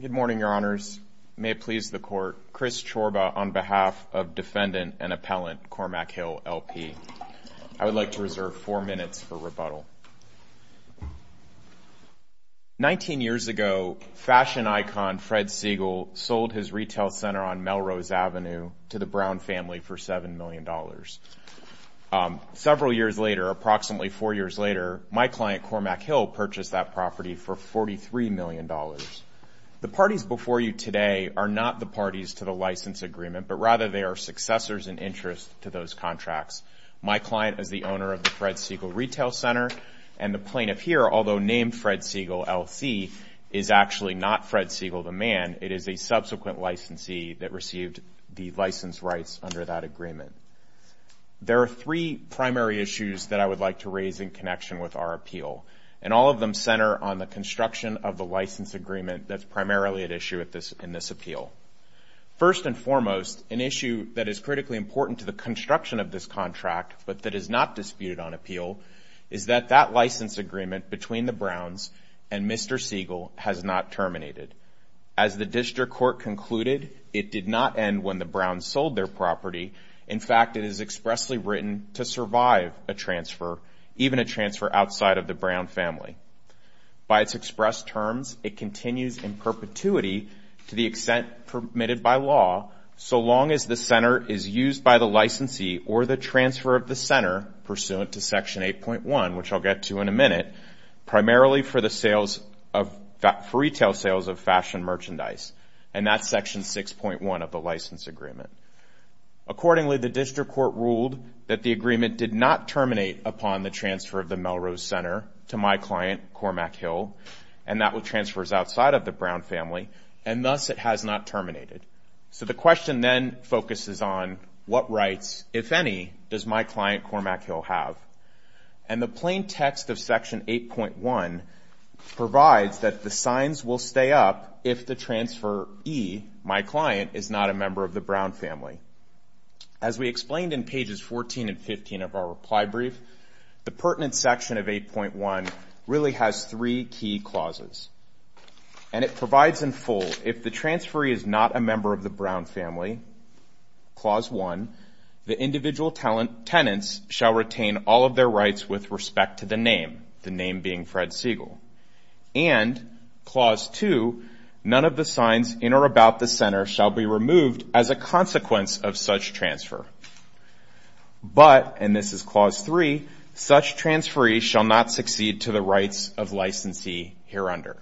Good morning, Your Honors. May it please the Court, Chris Chorba on behalf of Defendant and Appellant Cormackhill, LP. I would like to reserve four minutes for rebuttal. Nineteen years ago, fashion icon Fred Segal sold his retail center on Melrose Avenue to the Brown family for $7 million. Several years later, approximately four years later, my client purchased that property for $43 million. The parties before you today are not the parties to the license agreement, but rather they are successors in interest to those contracts. My client is the owner of the Fred Segal Retail Center, and the plaintiff here, although named Fred Segal, LC, is actually not Fred Segal, the man. It is a subsequent licensee that received the license rights under that agreement. There are three primary issues that I would like to raise in connection with our appeal. All of them center on the construction of the license agreement that is primarily at issue in this appeal. First and foremost, an issue that is critically important to the construction of this contract, but that is not disputed on appeal, is that that license agreement between the Browns and Mr. Segal has not terminated. As the District Court concluded, it did not end when the Browns sold their property. In fact, it is expressly written to survive a transfer, even a transfer outside of the Brown family. By its express terms, it continues in perpetuity to the extent permitted by law, so long as the center is used by the licensee or the transfer of the center pursuant to Section 8.1, which I'll get to in a minute, primarily for retail sales of fashion merchandise, and that's Section 6.1 of the license agreement. Accordingly, the District Court ruled that the agreement did not terminate upon the transfer of the Melrose Center to my client, Cormac Hill, and that with transfers outside of the Brown family, and thus it has not terminated. So the question then focuses on what rights, if any, does my client, Cormac Hill, have? And the plain text of Section 8.1 provides that the signs will stay up if the transferee, my client, is not a member of the Brown family. As we explained in pages 14 and 15 of our reply brief, the pertinent section of 8.1 really has three key clauses. And it provides in full, if the transferee is not a member of the Brown family, Clause 1, the individual tenants shall retain all of their rights with respect to the name, the name being Fred Siegel. And Clause 2, none of the signs in or about the center shall be removed as a consequence of such transfer. But, and this is Clause 3, such transferees shall not succeed to the rights of licensee hereunder.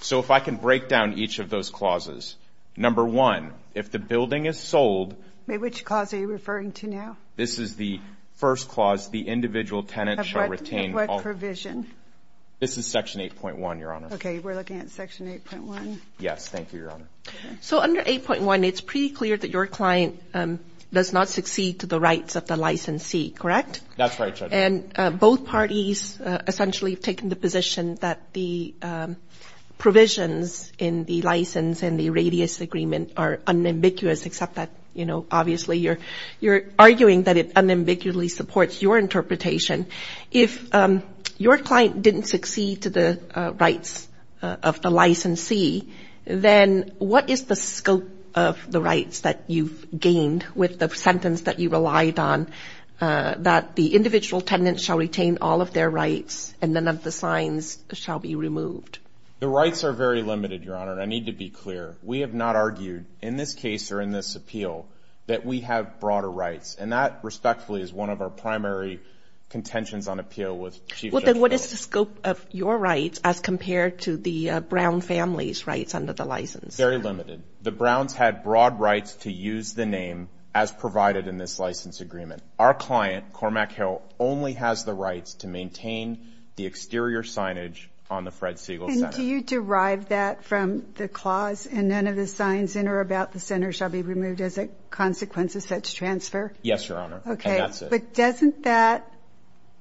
So if I can break down each of those clauses. Number one, if the building is sold. May I ask which clause are you referring to now? This is the first clause, the individual tenants shall retain all. Of what provision? This is Section 8.1, Your Honor. Okay, we're looking at Section 8.1. Yes, thank you, Your Honor. So under 8.1, it's pretty clear that your client does not succeed to the rights of the licensee, correct? That's right, Judge. And both parties essentially have taken the position that the provisions in the license and the radius agreement are unambiguous, except that, you know, obviously you're arguing that it unambiguously supports your interpretation. If your client didn't succeed to the rights of the licensee, then what is the scope of the rights that you've gained with the sentence that you relied on, that the individual tenants shall retain all of their rights and none of the signs shall be removed? The rights are very limited, Your Honor, and I need to be clear. We have not argued, in this case or in this appeal, that we have broader rights, and that respectfully is one of our primary contentions on appeal with Chief Judge Mills. Well, then what is the scope of your rights as compared to the Brown family's rights under the license? Very limited. The Browns had broad rights to use the name as provided in this license agreement. Our client, Cormac Hill, only has the rights to maintain the exterior signage on the Fred Siegel Center. And do you derive that from the clause, and none of the signs in or about the center shall be removed as a consequence of such transfer? Yes, Your Honor, and that's it. Okay, but doesn't that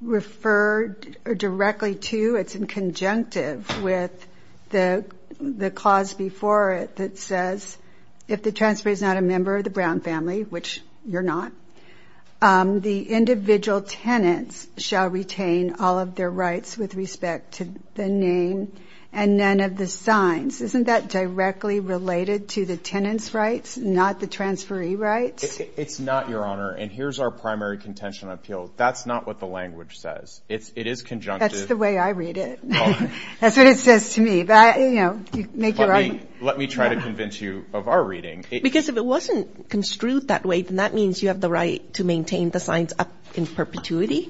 refer directly to, it's in conjunctive with the clause before it that says, if the transfer is not a member of the Brown family, which you're not, the name and none of the signs, isn't that directly related to the tenant's rights, not the transferee rights? It's not, Your Honor, and here's our primary contention on appeal. That's not what the language says. It is conjunctive. That's the way I read it. That's what it says to me. But, you know, make your own. Let me try to convince you of our reading. Because if it wasn't construed that way, then that means you have the right to maintain the signs up in perpetuity?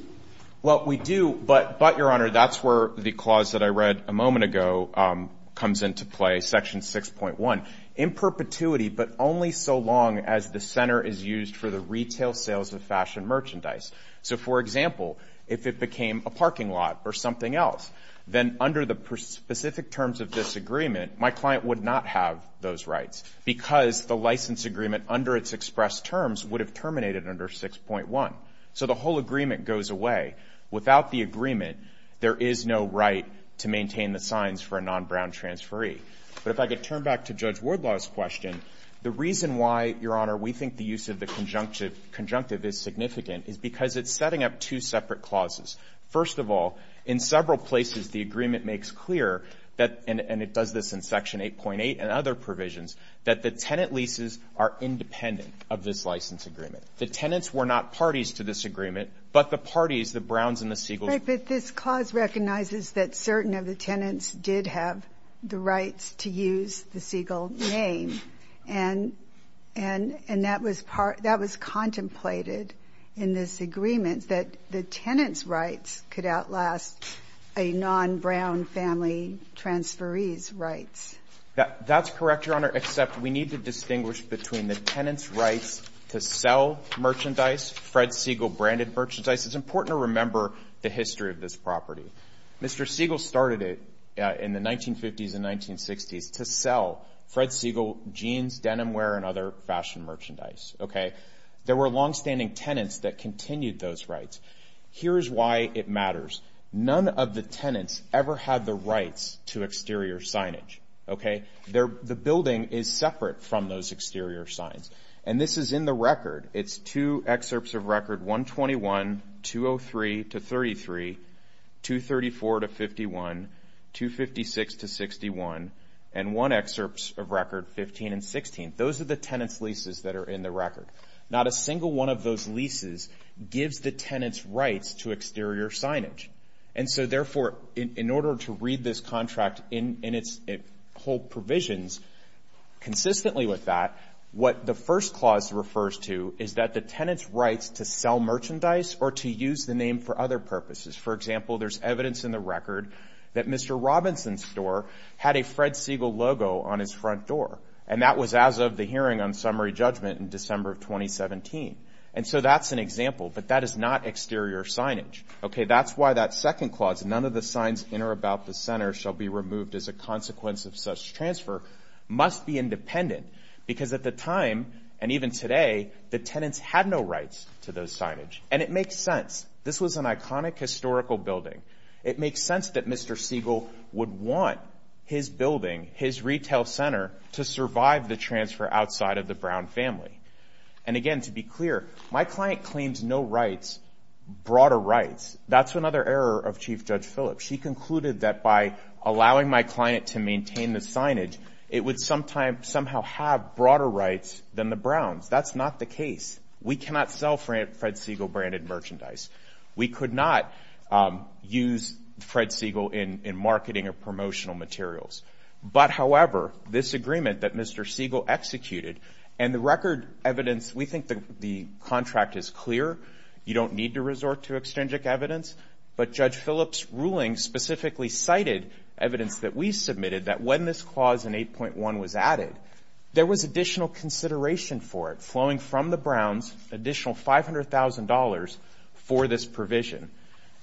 Well, we do, but, Your Honor, that's where the clause that I read a moment ago comes into play, Section 6.1. In perpetuity, but only so long as the center is used for the retail sales of fashion merchandise. So for example, if it became a parking lot or something else, then under the specific terms of this agreement, my client would not have those rights, because the license agreement under its express terms would have terminated under 6.1. So the whole agreement goes away. Without the agreement, there is no right to maintain the signs for a non-Brown transferee. But if I could turn back to Judge Wardlaw's question, the reason why, Your Honor, we think the use of the conjunctive is significant is because it's setting up two separate clauses. First of all, in several places, the agreement makes clear that, and it does this in Section 8.8 and other provisions, that the tenant leases are independent of this license agreement. The tenants were not parties to this agreement, but the parties, the Browns and the Seagulls Right, but this clause recognizes that certain of the tenants did have the rights to use the Seagull name, and that was contemplated in this agreement, that the tenant's rights could outlast a non-Brown family transferee's rights. That's correct, Your Honor, except we need to distinguish between the tenant's right to sell merchandise, Fred Seagull branded merchandise. It's important to remember the history of this property. Mr. Seagull started it in the 1950s and 1960s to sell Fred Seagull jeans, denim wear, and other fashion merchandise, okay? There were longstanding tenants that continued those rights. Here is why it matters. None of the tenants ever had the rights to exterior signage, okay? The building is separate from those exterior signs, and this is in the record. It's two excerpts of record 121, 203 to 33, 234 to 51, 256 to 61, and one excerpt of record 15 and 16. Those are the tenant's leases that are in the record. Not a single one of those leases gives the tenant's rights to exterior signage. And so, therefore, in order to read this contract in its whole provisions, consistently with that, what the first clause refers to is that the tenant's rights to sell merchandise or to use the name for other purposes. For example, there's evidence in the record that Mr. Robinson's store had a Fred Seagull logo on his front door, and that was as of the hearing on summary judgment in December of 2017. And so that's an example, but that is not exterior signage, okay? That's why that second clause, none of the signs in or about the center shall be removed as a consequence of such transfer, must be independent. Because at the time, and even today, the tenants had no rights to those signage. And it makes sense. This was an iconic historical building. It makes sense that Mr. Seagull would want his building, his retail center, to survive the transfer outside of the Brown family. And again, to be clear, my client claims no rights, broader rights. That's another error of Chief Judge Phillips. She concluded that by allowing my client to maintain the signage, it would somehow have broader rights than the Browns. That's not the case. We cannot sell Fred Seagull branded merchandise. We could not use Fred Seagull in marketing or promotional materials. But however, this agreement that Mr. Seagull executed, and the record evidence, we think the contract is clear. You don't need to resort to extrinsic evidence. But Judge Phillips' ruling specifically cited evidence that we submitted that when this clause in 8.1 was added, there was additional consideration for it, flowing from the Browns additional $500,000 for this provision.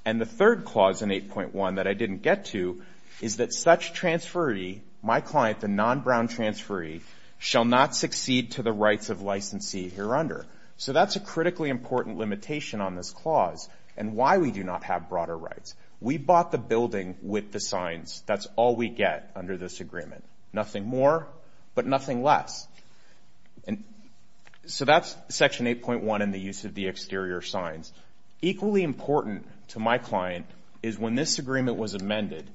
And the third clause in 8.1 that I didn't get to is that such transferee, my client, the non-Brown transferee, shall not succeed to the rights of licensee hereunder. So that's a critically important limitation on this clause, and why we do not have broader rights. We bought the building with the signs. That's all we get under this agreement. Nothing more, but nothing less. So that's Section 8.1 and the use of the exterior signs. Equally important to my client is when this agreement was amended,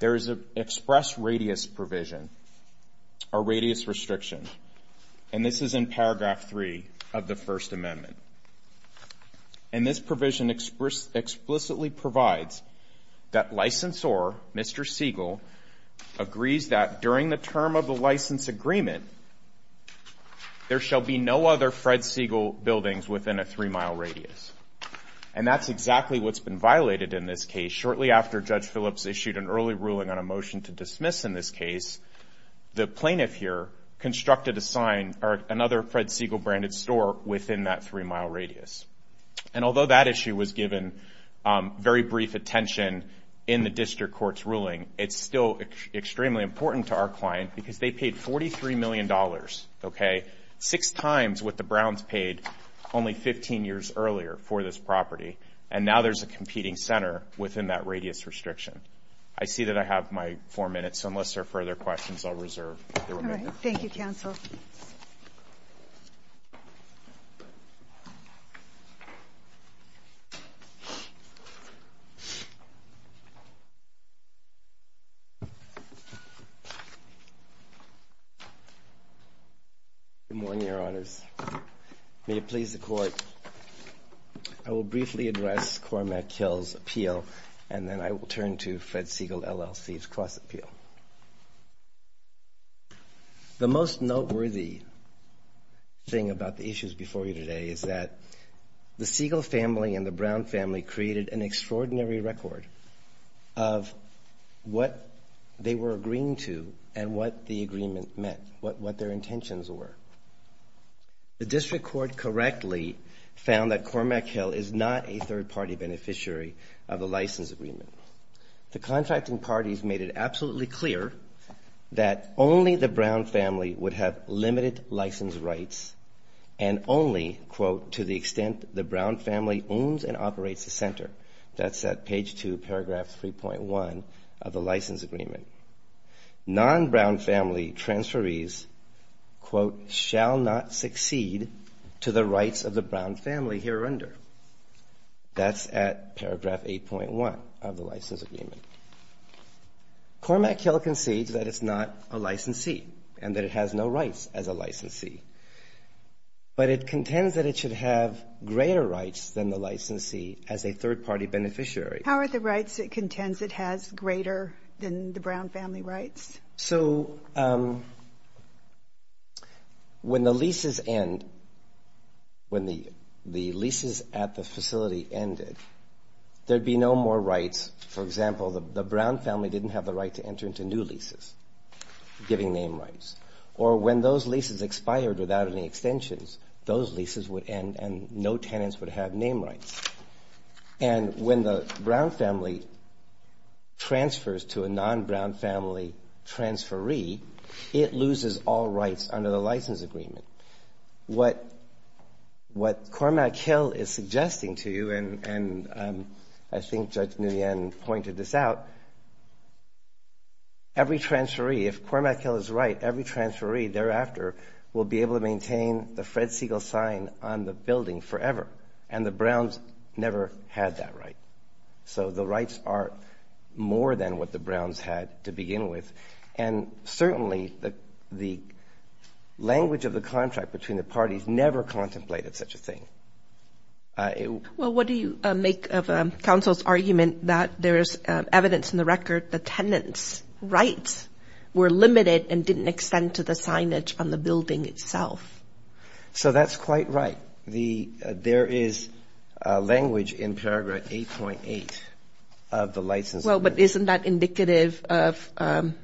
there is an express radius provision, or radius restriction. And this is in paragraph 3 of the First Amendment. And this provision explicitly provides that licensor, Mr. Seagull, agrees that during the term of the license agreement, there shall be no other Fred Seagull buildings within a three-mile radius. And that's exactly what's been violated in this case. Shortly after Judge Phillips issued an early ruling on a motion to dismiss in this case, the plaintiff here constructed a sign, or another Fred Seagull-branded store within that three-mile radius. And although that issue was given very brief attention in the district court's ruling, it's still extremely important to our client, because they paid $43 million, okay, six times what the Browns paid only 15 years earlier for this property. And now there's a competing center within that radius restriction. I see that I have my four minutes, so unless there are further questions, I'll reserve the remainder. All right. Thank you, counsel. Good morning, Your Honors. May it please the Court, I will briefly address Cormac Hill's appeal, and then I will turn to Fred Seagull, LLC's cross-appeal. Thank you. The most noteworthy thing about the issues before you today is that the Seagull family and the Brown family created an extraordinary record of what they were agreeing to and what the agreement meant, what their intentions were. The district court correctly found that Cormac Hill is not a third-party beneficiary of the license agreement. The contracting parties made it absolutely clear that only the Brown family would have limited license rights and only, quote, to the extent the Brown family owns and operates the center. That's at page 2, paragraph 3.1 of the license agreement. Non-Brown family transferees, quote, shall not succeed to the rights of the Brown family here under. That's at paragraph 8.1 of the license agreement. Cormac Hill concedes that it's not a licensee and that it has no rights as a licensee, but it contends that it should have greater rights than the licensee as a third-party beneficiary. How are the rights it contends it has greater than the Brown family rights? So when the leases end, when the leases at the facility ended, there'd be no more rights. For example, the Brown family didn't have the right to enter into new leases, giving name rights. Or when those leases expired without any extensions, those leases would end and no tenants would have name rights. And when the Brown family transfers to a non-Brown family transferee, it loses all rights under the license agreement. What Cormac Hill is suggesting to you, and I think Judge Nguyen pointed this out, every transferee, if Cormac Hill is right, every transferee thereafter will be able to maintain the Fred Siegel sign on the building forever. And the Browns never had that right. So the rights are more than what the Browns had to begin with. And certainly the language of the contract between the parties never contemplated such a thing. Well, what do you make of counsel's argument that there's evidence in the record the tenants' rights were limited and didn't extend to the signage on the building itself? So that's quite right. There is language in paragraph 8.8 of the license agreement. Well, but isn't that indicative of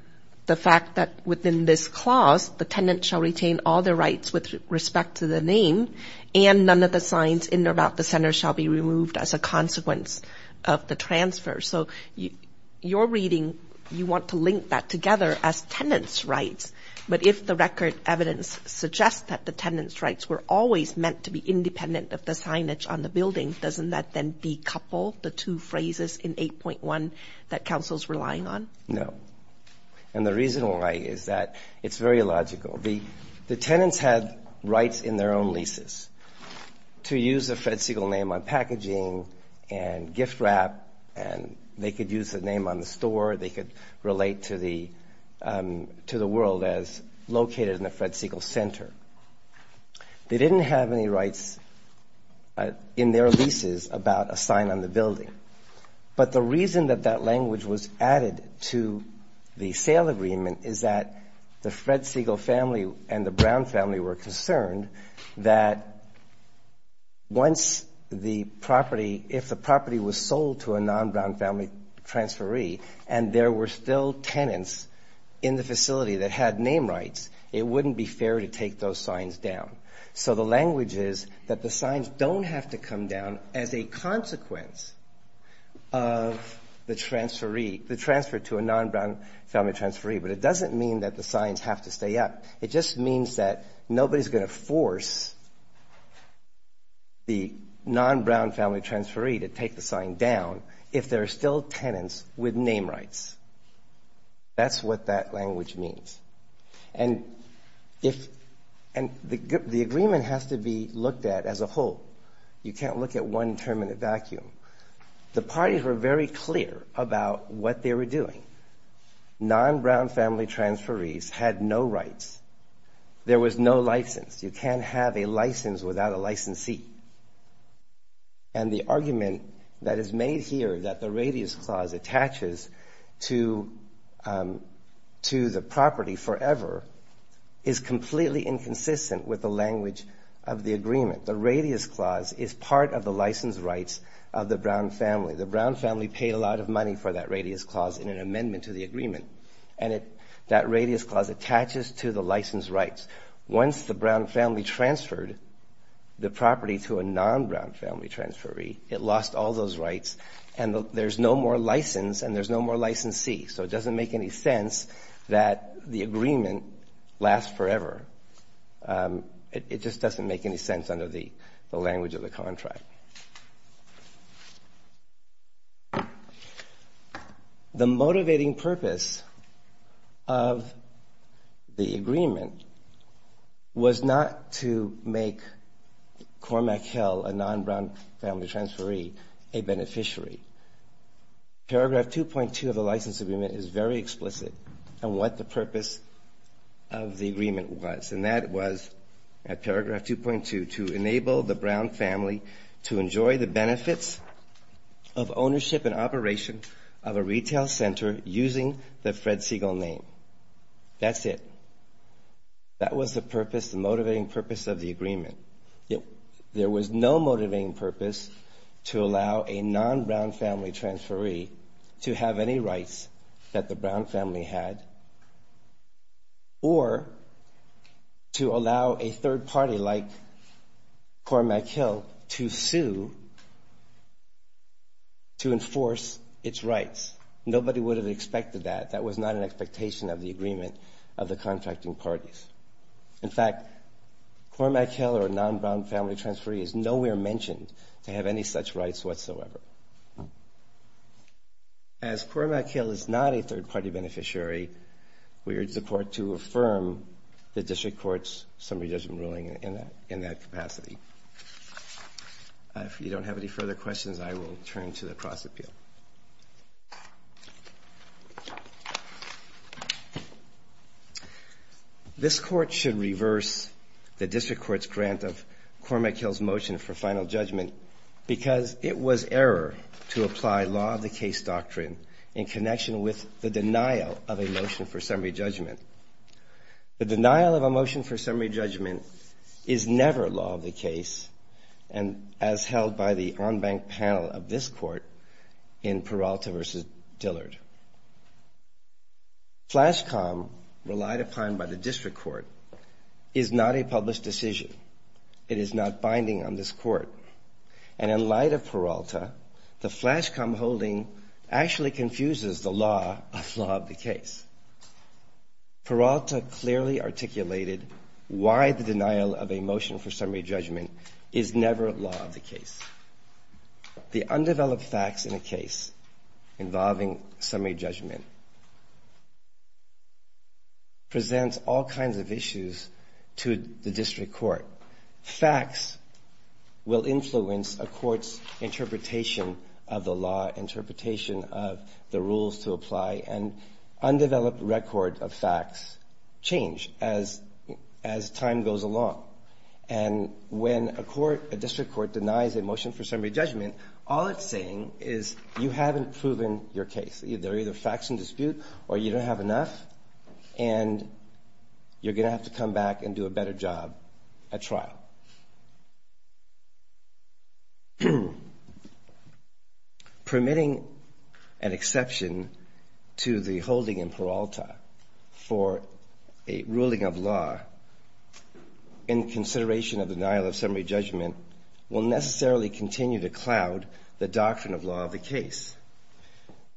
the fact that within this clause, the tenant shall retain all their rights with respect to the name and none of the signs in or about the center shall be removed as a consequence of the transfer. So your reading, you want to link that together as tenants' rights. But if the record evidence suggests that the tenants' rights were always meant to be independent of the signage on the building, doesn't that then decouple the two phrases in 8.1 that counsel's relying on? No. And the reason why is that it's very illogical. The tenants had rights in their own leases to use the Fred Siegel name on packaging and they could use the name on the store. They could relate to the world as located in the Fred Siegel Center. They didn't have any rights in their leases about a sign on the building. But the reason that that language was added to the sale agreement is that the Fred Siegel family and the Brown family were concerned that once the property, if the property was a non-Brown family transferee and there were still tenants in the facility that had name rights, it wouldn't be fair to take those signs down. So the language is that the signs don't have to come down as a consequence of the transferee, the transfer to a non-Brown family transferee. But it doesn't mean that the signs have to stay up. It just means that nobody's going to force the non-Brown family transferee to take the still tenants with name rights. That's what that language means. And the agreement has to be looked at as a whole. You can't look at one term in a vacuum. The parties were very clear about what they were doing. Non-Brown family transferees had no rights. There was no license. You can't have a license without a licensee. And the argument that is made here that the Radius Clause attaches to the property forever is completely inconsistent with the language of the agreement. The Radius Clause is part of the license rights of the Brown family. The Brown family paid a lot of money for that Radius Clause in an amendment to the agreement. And that Radius Clause attaches to the license rights. Once the Brown family transferred the property to a non-Brown family transferee, it lost all those rights. And there's no more license. And there's no more licensee. So it doesn't make any sense that the agreement lasts forever. It just doesn't make any sense under the language of the contract. The motivating purpose of the agreement was not to make Cormac Hill, a non-Brown family transferee, a beneficiary. Paragraph 2.2 of the license agreement is very explicit on what the purpose of the agreement was. And that was, at paragraph 2.2, to enable the Brown family to enjoy the benefits of ownership and operation of a retail center using the Fred Siegel name. That's it. That was the purpose, the motivating purpose of the agreement. There was no motivating purpose to allow a non-Brown family transferee to have any rights that the Brown family had or to allow a third party like Cormac Hill to sue to enforce its rights. Nobody would have expected that. That was not an expectation of the agreement of the contracting parties. In fact, Cormac Hill, or a non-Brown family transferee, is nowhere mentioned to have any such rights whatsoever. As Cormac Hill is not a third party beneficiary, we urge the court to affirm the district court's summary judgment ruling in that capacity. If you don't have any further questions, I will turn to the cross appeal. This court should reverse the district court's grant of Cormac Hill's motion for final judgment because it was error to apply law of the case doctrine in connection with the denial of a motion for summary judgment. The denial of a motion for summary judgment is never law of the case, as held by the en banc panel of this court in Peralta v. Dillard. Flash comm relied upon by the district court is not a published decision. It is not binding on this court. And in light of Peralta, the flash comm holding actually confuses the law of law of the case. Peralta clearly articulated why the denial of a motion for summary judgment is never law of the case. The undeveloped facts in a case involving summary judgment presents all kinds of issues to the district court. Facts will influence a court's interpretation of the law, interpretation of the rules to apply, and undeveloped record of facts change as time goes along. And when a court, a district court denies a motion for summary judgment, all it's saying is you haven't proven your case. They're either facts in dispute or you don't have enough and you're going to have to come back and do a better job at trying to prove your case. And that's a trial. Permitting an exception to the holding in Peralta for a ruling of law in consideration of denial of summary judgment will necessarily continue to cloud the doctrine of law of the case.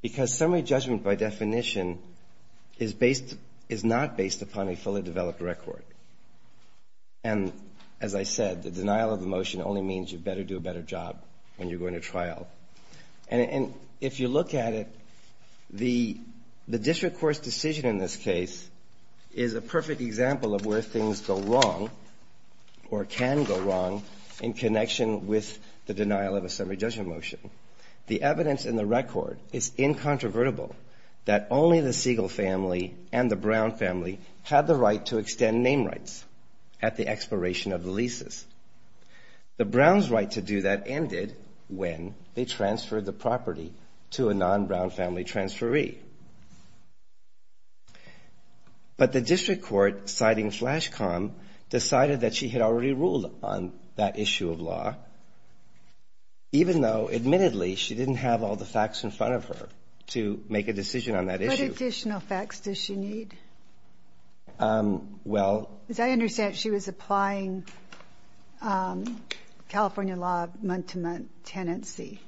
Because summary judgment by definition is based, is not based upon a fully developed record. And as I said, the denial of a motion only means you better do a better job when you're going to trial. And if you look at it, the district court's decision in this case is a perfect example of where things go wrong or can go wrong in connection with the denial of a summary judgment motion. The evidence in the record is incontrovertible that only the Siegel family and the Brown family had the right to extend name rights to the district court. The Browns had the right to extend family name rights at the expiration of the leases. The Browns' right to do that ended when they transferred the property to a non-Brown family transferee. But the district court, citing flash comm, decided that she had already ruled on that issue of law, even though admittedly she didn't have all the facts in front of her to make a decision on that issue. What additional facts does she need? As I understand it, she was applying California law of month-to-month tenancy,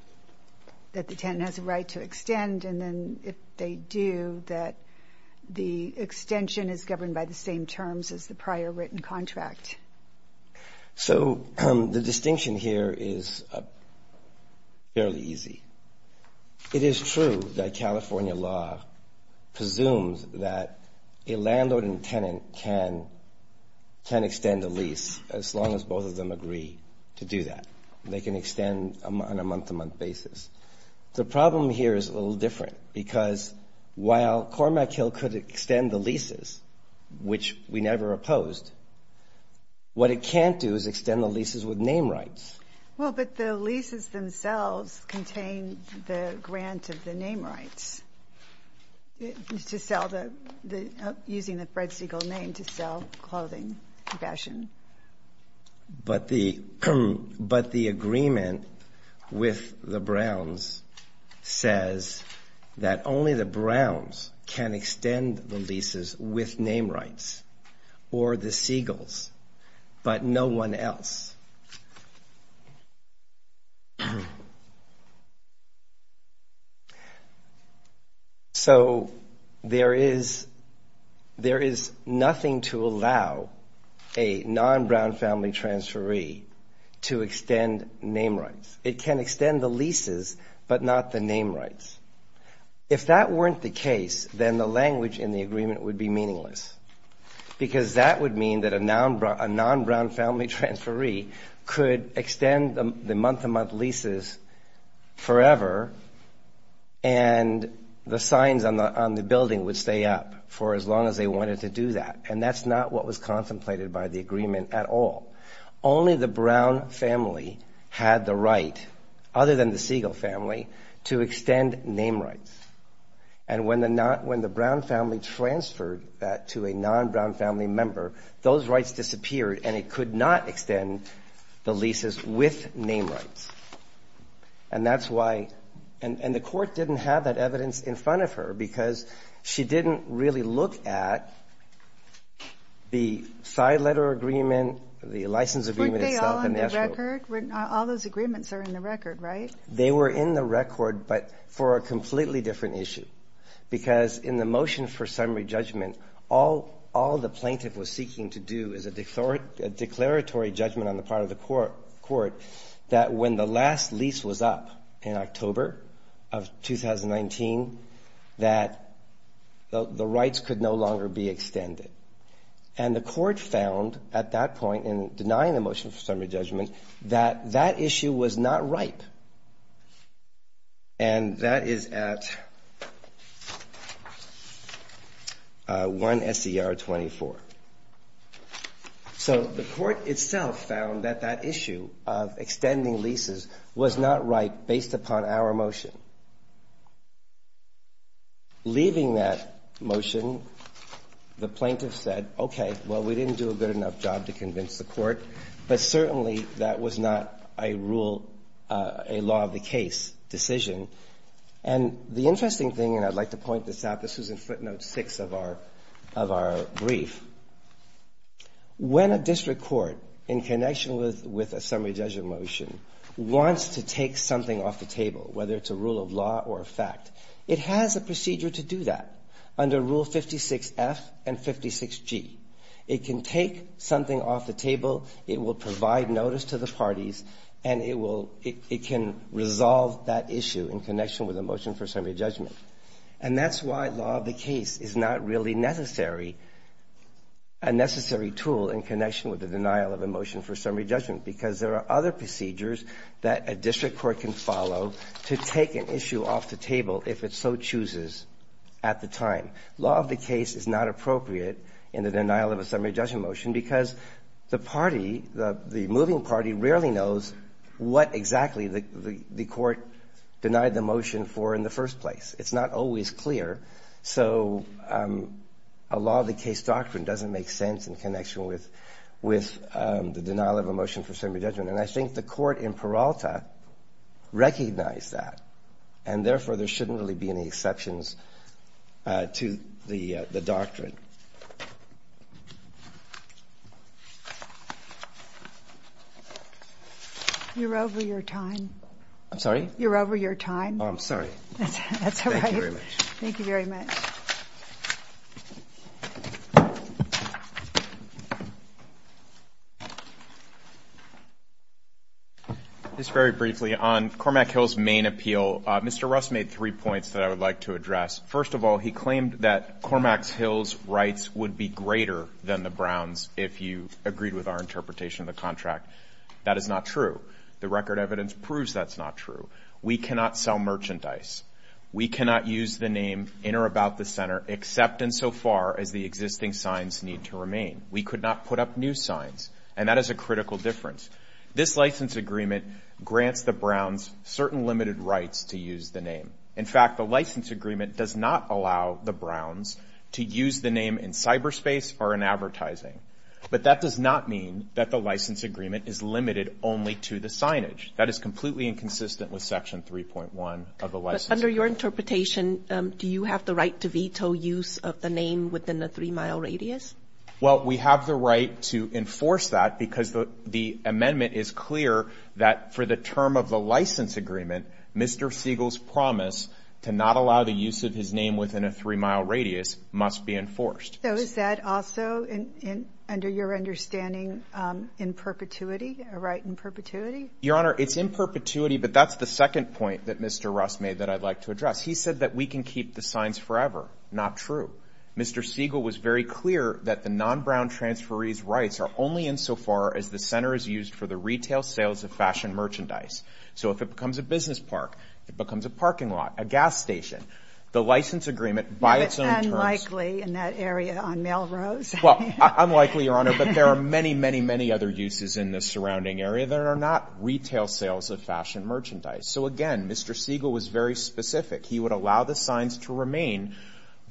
that the tenant has a right to extend, and then if they do, that the extension is governed by the same terms as the prior written contract. So the distinction here is fairly easy. It is true that California law presumes that a landlord and tenant can extend a lease as long as both of them agree to do that. They can extend on a month-to-month basis. The problem here is a little different, because while Cormac Hill could extend the leases, which we never opposed, what it can't do is extend the leases with name rights. Well, but the leases themselves contain the grant of the name rights, using the Fred Siegel name to sell clothing and fashion. But the agreement with the Browns says that only the Browns can extend the leases with name rights, or the Siegels, but no one else. So there is nothing to allow a non-Brown family transferee to extend name rights. It can extend the leases, but not the name rights. If that weren't the case, then the language in the agreement would be meaningless, because that would mean that a non-Brown family transferee could extend the lease. They could extend the month-to-month leases forever, and the signs on the building would stay up for as long as they wanted to do that. And that's not what was contemplated by the agreement at all. Only the Brown family had the right, other than the Siegel family, to extend name rights. And when the Brown family transferred that to a non-Brown family member, those rights disappeared, and it could not extend the leases with name rights. And that's why — and the Court didn't have that evidence in front of her, because she didn't really look at the side letter agreement, the license agreement itself, and the actual — They were in the record, but for a completely different issue. Because in the motion for summary judgment, all the plaintiff was seeking to do is a declaratory judgment on the part of the Court. That when the last lease was up in October of 2019, that the rights could no longer be extended. And the Court found at that point, in denying the motion for summary judgment, that that issue was not ripe. And that is at 1 SCR 24. So the Court itself found that that issue of extending leases was not ripe based upon our motion. Leaving that motion, the plaintiff said, okay, well, we didn't do a good enough job to convince the Court, but certainly that was not a rule — a law of the case decision. And the interesting thing, and I'd like to point this out, this was in footnote 6 of our — of our brief. When a district court, in connection with a summary judgment motion, wants to take something off the table, whether it's a rule of law or a fact, it has a procedure to do that under Rule 56F and 56G. It can take something off the table, it will provide notice to the parties, and it will — it can resolve that issue. And that's why law of the case is not really necessary — a necessary tool in connection with the denial of a motion for summary judgment. Because there are other procedures that a district court can follow to take an issue off the table, if it so chooses, at the time. Law of the case is not appropriate in the denial of a summary judgment motion, because the party, the moving party, rarely knows what exactly the Court denied the motion for in the first place. It's not always clear, so a law of the case doctrine doesn't make sense in connection with the denial of a motion for summary judgment. And I think the Court in Peralta recognized that, and therefore there shouldn't really be any exceptions to the doctrine. You're over your time. I'm sorry? You're over your time. Oh, I'm sorry. That's all right. Thank you very much. Just very briefly, on Cormac Hill's main appeal, Mr. Russ made three points that I would like to address. First of all, he claimed that Cormac Hill's rights would be greater than the Browns' if you agreed with our interpretation of the contract. That is not true. The record evidence proves that's not true. We cannot sell merchandise. We cannot use the name in or about the center, except insofar as the existing signs need to remain. We could not put up new signs, and that is a critical difference. This license agreement grants the Browns certain limited rights to use the name. In fact, the license agreement does not allow the Browns to use the name in cyberspace or in advertising. But that does not mean that the license agreement is limited only to the signage. That is completely inconsistent with Section 3.1 of the license agreement. But under your interpretation, do you have the right to veto use of the name within a three-mile radius? Well, we have the right to enforce that because the amendment is clear that for the term of the license agreement, Mr. Siegel's promise to not allow the use of his name within a three-mile radius must be enforced. So is that also, under your understanding, in perpetuity, a right in perpetuity? Your Honor, it's in perpetuity, but that's the second point that Mr. Russ made that I'd like to address. He said that we can keep the signs forever. Not true. Mr. Siegel was very clear that the non-Brown transferees' rights are only insofar as the center is used for the retail sales of fashion merchandise. So if it becomes a business park, it becomes a parking lot, a gas station, the license agreement by its own terms... Well, I'm likely, Your Honor, but there are many, many, many other uses in the surrounding area that are not retail sales of fashion merchandise. So again, Mr. Siegel was very specific. He would allow the signs to remain,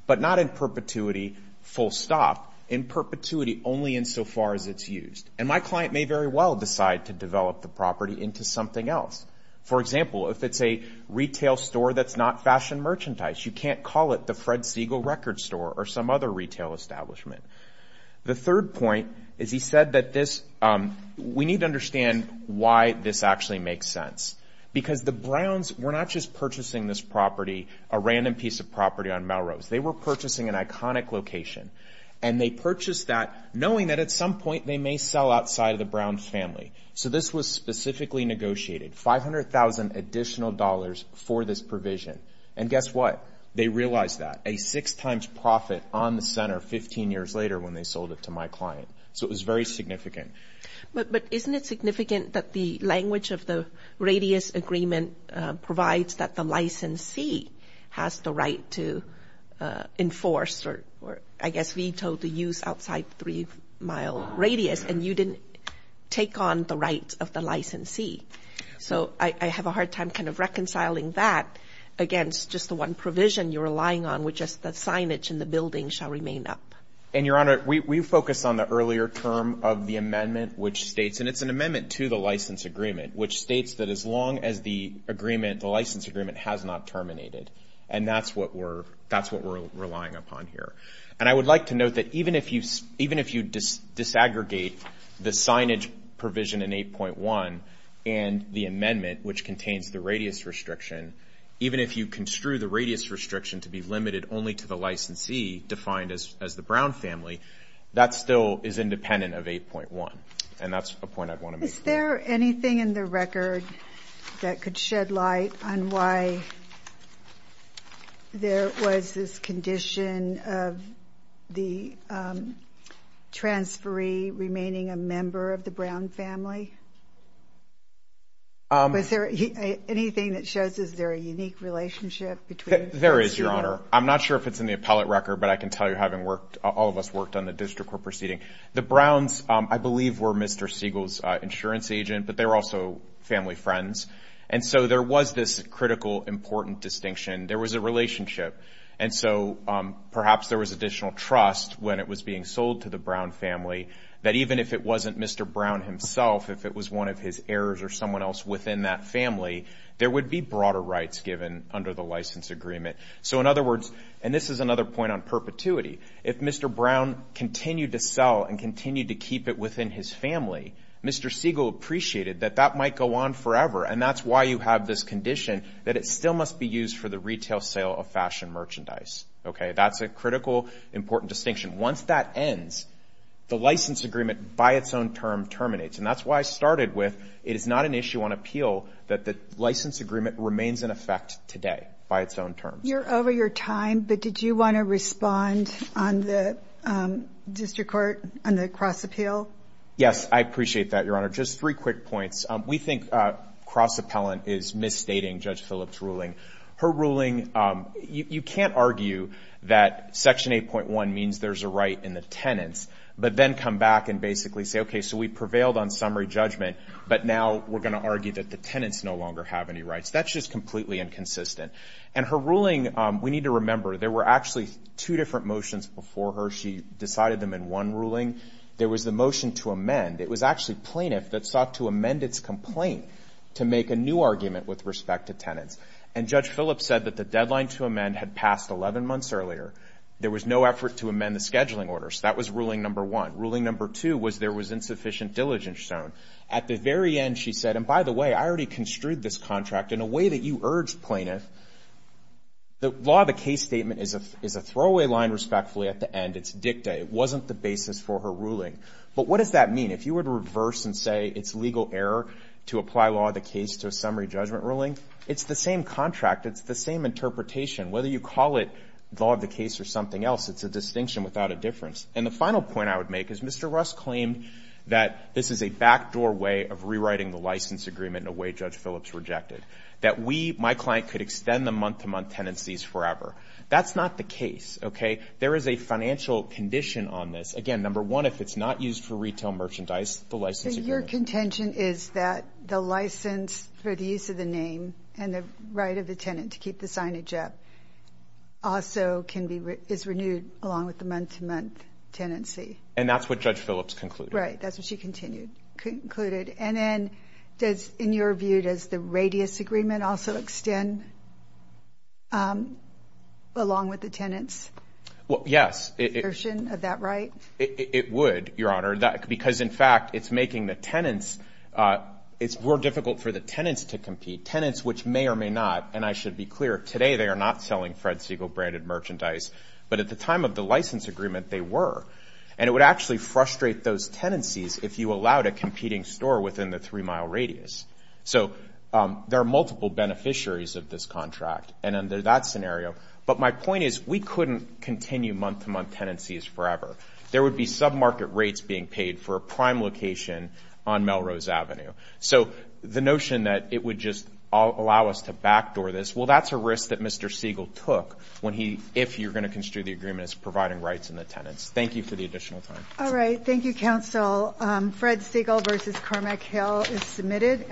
but not in perpetuity, full stop. In perpetuity, only insofar as it's used. And my client may very well decide to develop the property into something else. For example, if it's a retail store that's not fashion merchandise, you can't call it the Fred Siegel Record Store or some other retail area. It's a retail establishment. The third point is he said that we need to understand why this actually makes sense. Because the Browns were not just purchasing this property, a random piece of property on Melrose. They were purchasing an iconic location, and they purchased that knowing that at some point they may sell outside of the Browns' family. So this was specifically negotiated, $500,000 additional dollars for this provision. And guess what? They realized that. And they made a six times profit on the center 15 years later when they sold it to my client. So it was very significant. But isn't it significant that the language of the radius agreement provides that the licensee has the right to enforce, or I guess veto, the use outside the three-mile radius, and you didn't take on the rights of the licensee? So I have a hard time kind of reconciling that against just the one provision you're relying on, which is the $500,000. I guess the signage in the building shall remain up. And, Your Honor, we focus on the earlier term of the amendment, which states, and it's an amendment to the license agreement, which states that as long as the agreement, the license agreement, has not terminated. And that's what we're relying upon here. And I would like to note that even if you disaggregate the signage provision in 8.1 and the amendment, which contains the radius restriction, even if you construe the radius restriction to be limited only to the three-mile radius, that's not going to be the case. And even if you construe the radius restriction to be limited only to the licensee, defined as the Brown family, that still is independent of 8.1, and that's a point I'd want to make. Is there anything in the record that could shed light on why there was this condition of the transferee remaining a member of the Brown family? Was there anything that shows, is there a unique relationship between the two? There is, Your Honor. I'm not sure if it's in the appellate record, but I can tell you, having worked, all of us worked on the district we're proceeding, the Browns, I believe, were Mr. Siegel's insurance agent, but they were also family friends. And so there was this critical, important distinction. There was a relationship. And so perhaps there was additional trust when it was being sold to the Brown family that even if it wasn't Mr. Brown himself, if it was one of his heirs or someone else within that family, there would be broader rights given under the license agreement. So in other words, and this is another point on perpetuity, if Mr. Brown continued to sell and continued to keep it within his family, Mr. Siegel appreciated that that might go on forever. And that's why you have this condition that it still must be used for the retail sale of fashion merchandise. Okay, that's a critical, important distinction. Once that ends, the license agreement by its own term terminates. And that's why I started with, it is not an issue on appeal that the license agreement remains in effect today by its own terms. I know you're over your time, but did you want to respond on the district court on the cross-appeal? Yes, I appreciate that, Your Honor. Just three quick points. We think cross-appellant is misstating Judge Phillips' ruling. Her ruling, you can't argue that Section 8.1 means there's a right in the tenants, but then come back and basically say, okay, so we prevailed on summary judgment, but now we're going to argue that the tenants no longer have any rights. That's just completely inconsistent. And her ruling, we need to remember, there were actually two different motions before her. She decided them in one ruling. There was the motion to amend. It was actually plaintiff that sought to amend its complaint to make a new argument with respect to tenants. And Judge Phillips said that the deadline to amend had passed 11 months earlier. There was no effort to amend the scheduling orders. That was ruling number one. Ruling number two was there was insufficient diligence shown. At the very end, she said, and by the way, I already construed this contract in a way that you urged plaintiff. The law of the case statement is a throwaway line, respectfully, at the end. It's dicta. It wasn't the basis for her ruling. But what does that mean? If you were to reverse and say it's legal error to apply law of the case to a summary judgment ruling, it's the same contract. It's the same interpretation. Whether you call it law of the case or something else, it's a distinction without a difference. And the final point I would make is Mr. Russ claimed that this is a backdoor way of rewriting the license agreement in a way Judge Phillips rejected. That we, my client, could extend the month-to-month tenancies forever. That's not the case, okay? There is a financial condition on this. Again, number one, if it's not used for retail merchandise, the license agreement. So your contention is that the license for the use of the name and the right of the tenant to keep the signage up also is renewed along with the month-to-month? Tenancy. And that's what Judge Phillips concluded. Right, that's what she concluded. And in your view, does the radius agreement also extend along with the tenants? Of that right? It would, Your Honor. Because in fact, it's making the tenants, it's more difficult for the tenants to compete. Tenants which may or may not, and I should be clear, today they are not selling Fred Siegel branded merchandise. But at the time of the license agreement, they were. And it would actually frustrate those tenancies if you allowed a competing store within the three-mile radius. So there are multiple beneficiaries of this contract. And under that scenario. But my point is, we couldn't continue month-to-month tenancies forever. There would be sub-market rates being paid for a prime location on Melrose Avenue. So the notion that it would just allow us to backdoor this, well, that's a risk that Mr. Siegel took. If you're going to construe the agreement as providing rights in the tenants. Thank you for the additional time. All right, thank you, counsel. Fred Siegel v. Cormac Hill is submitted.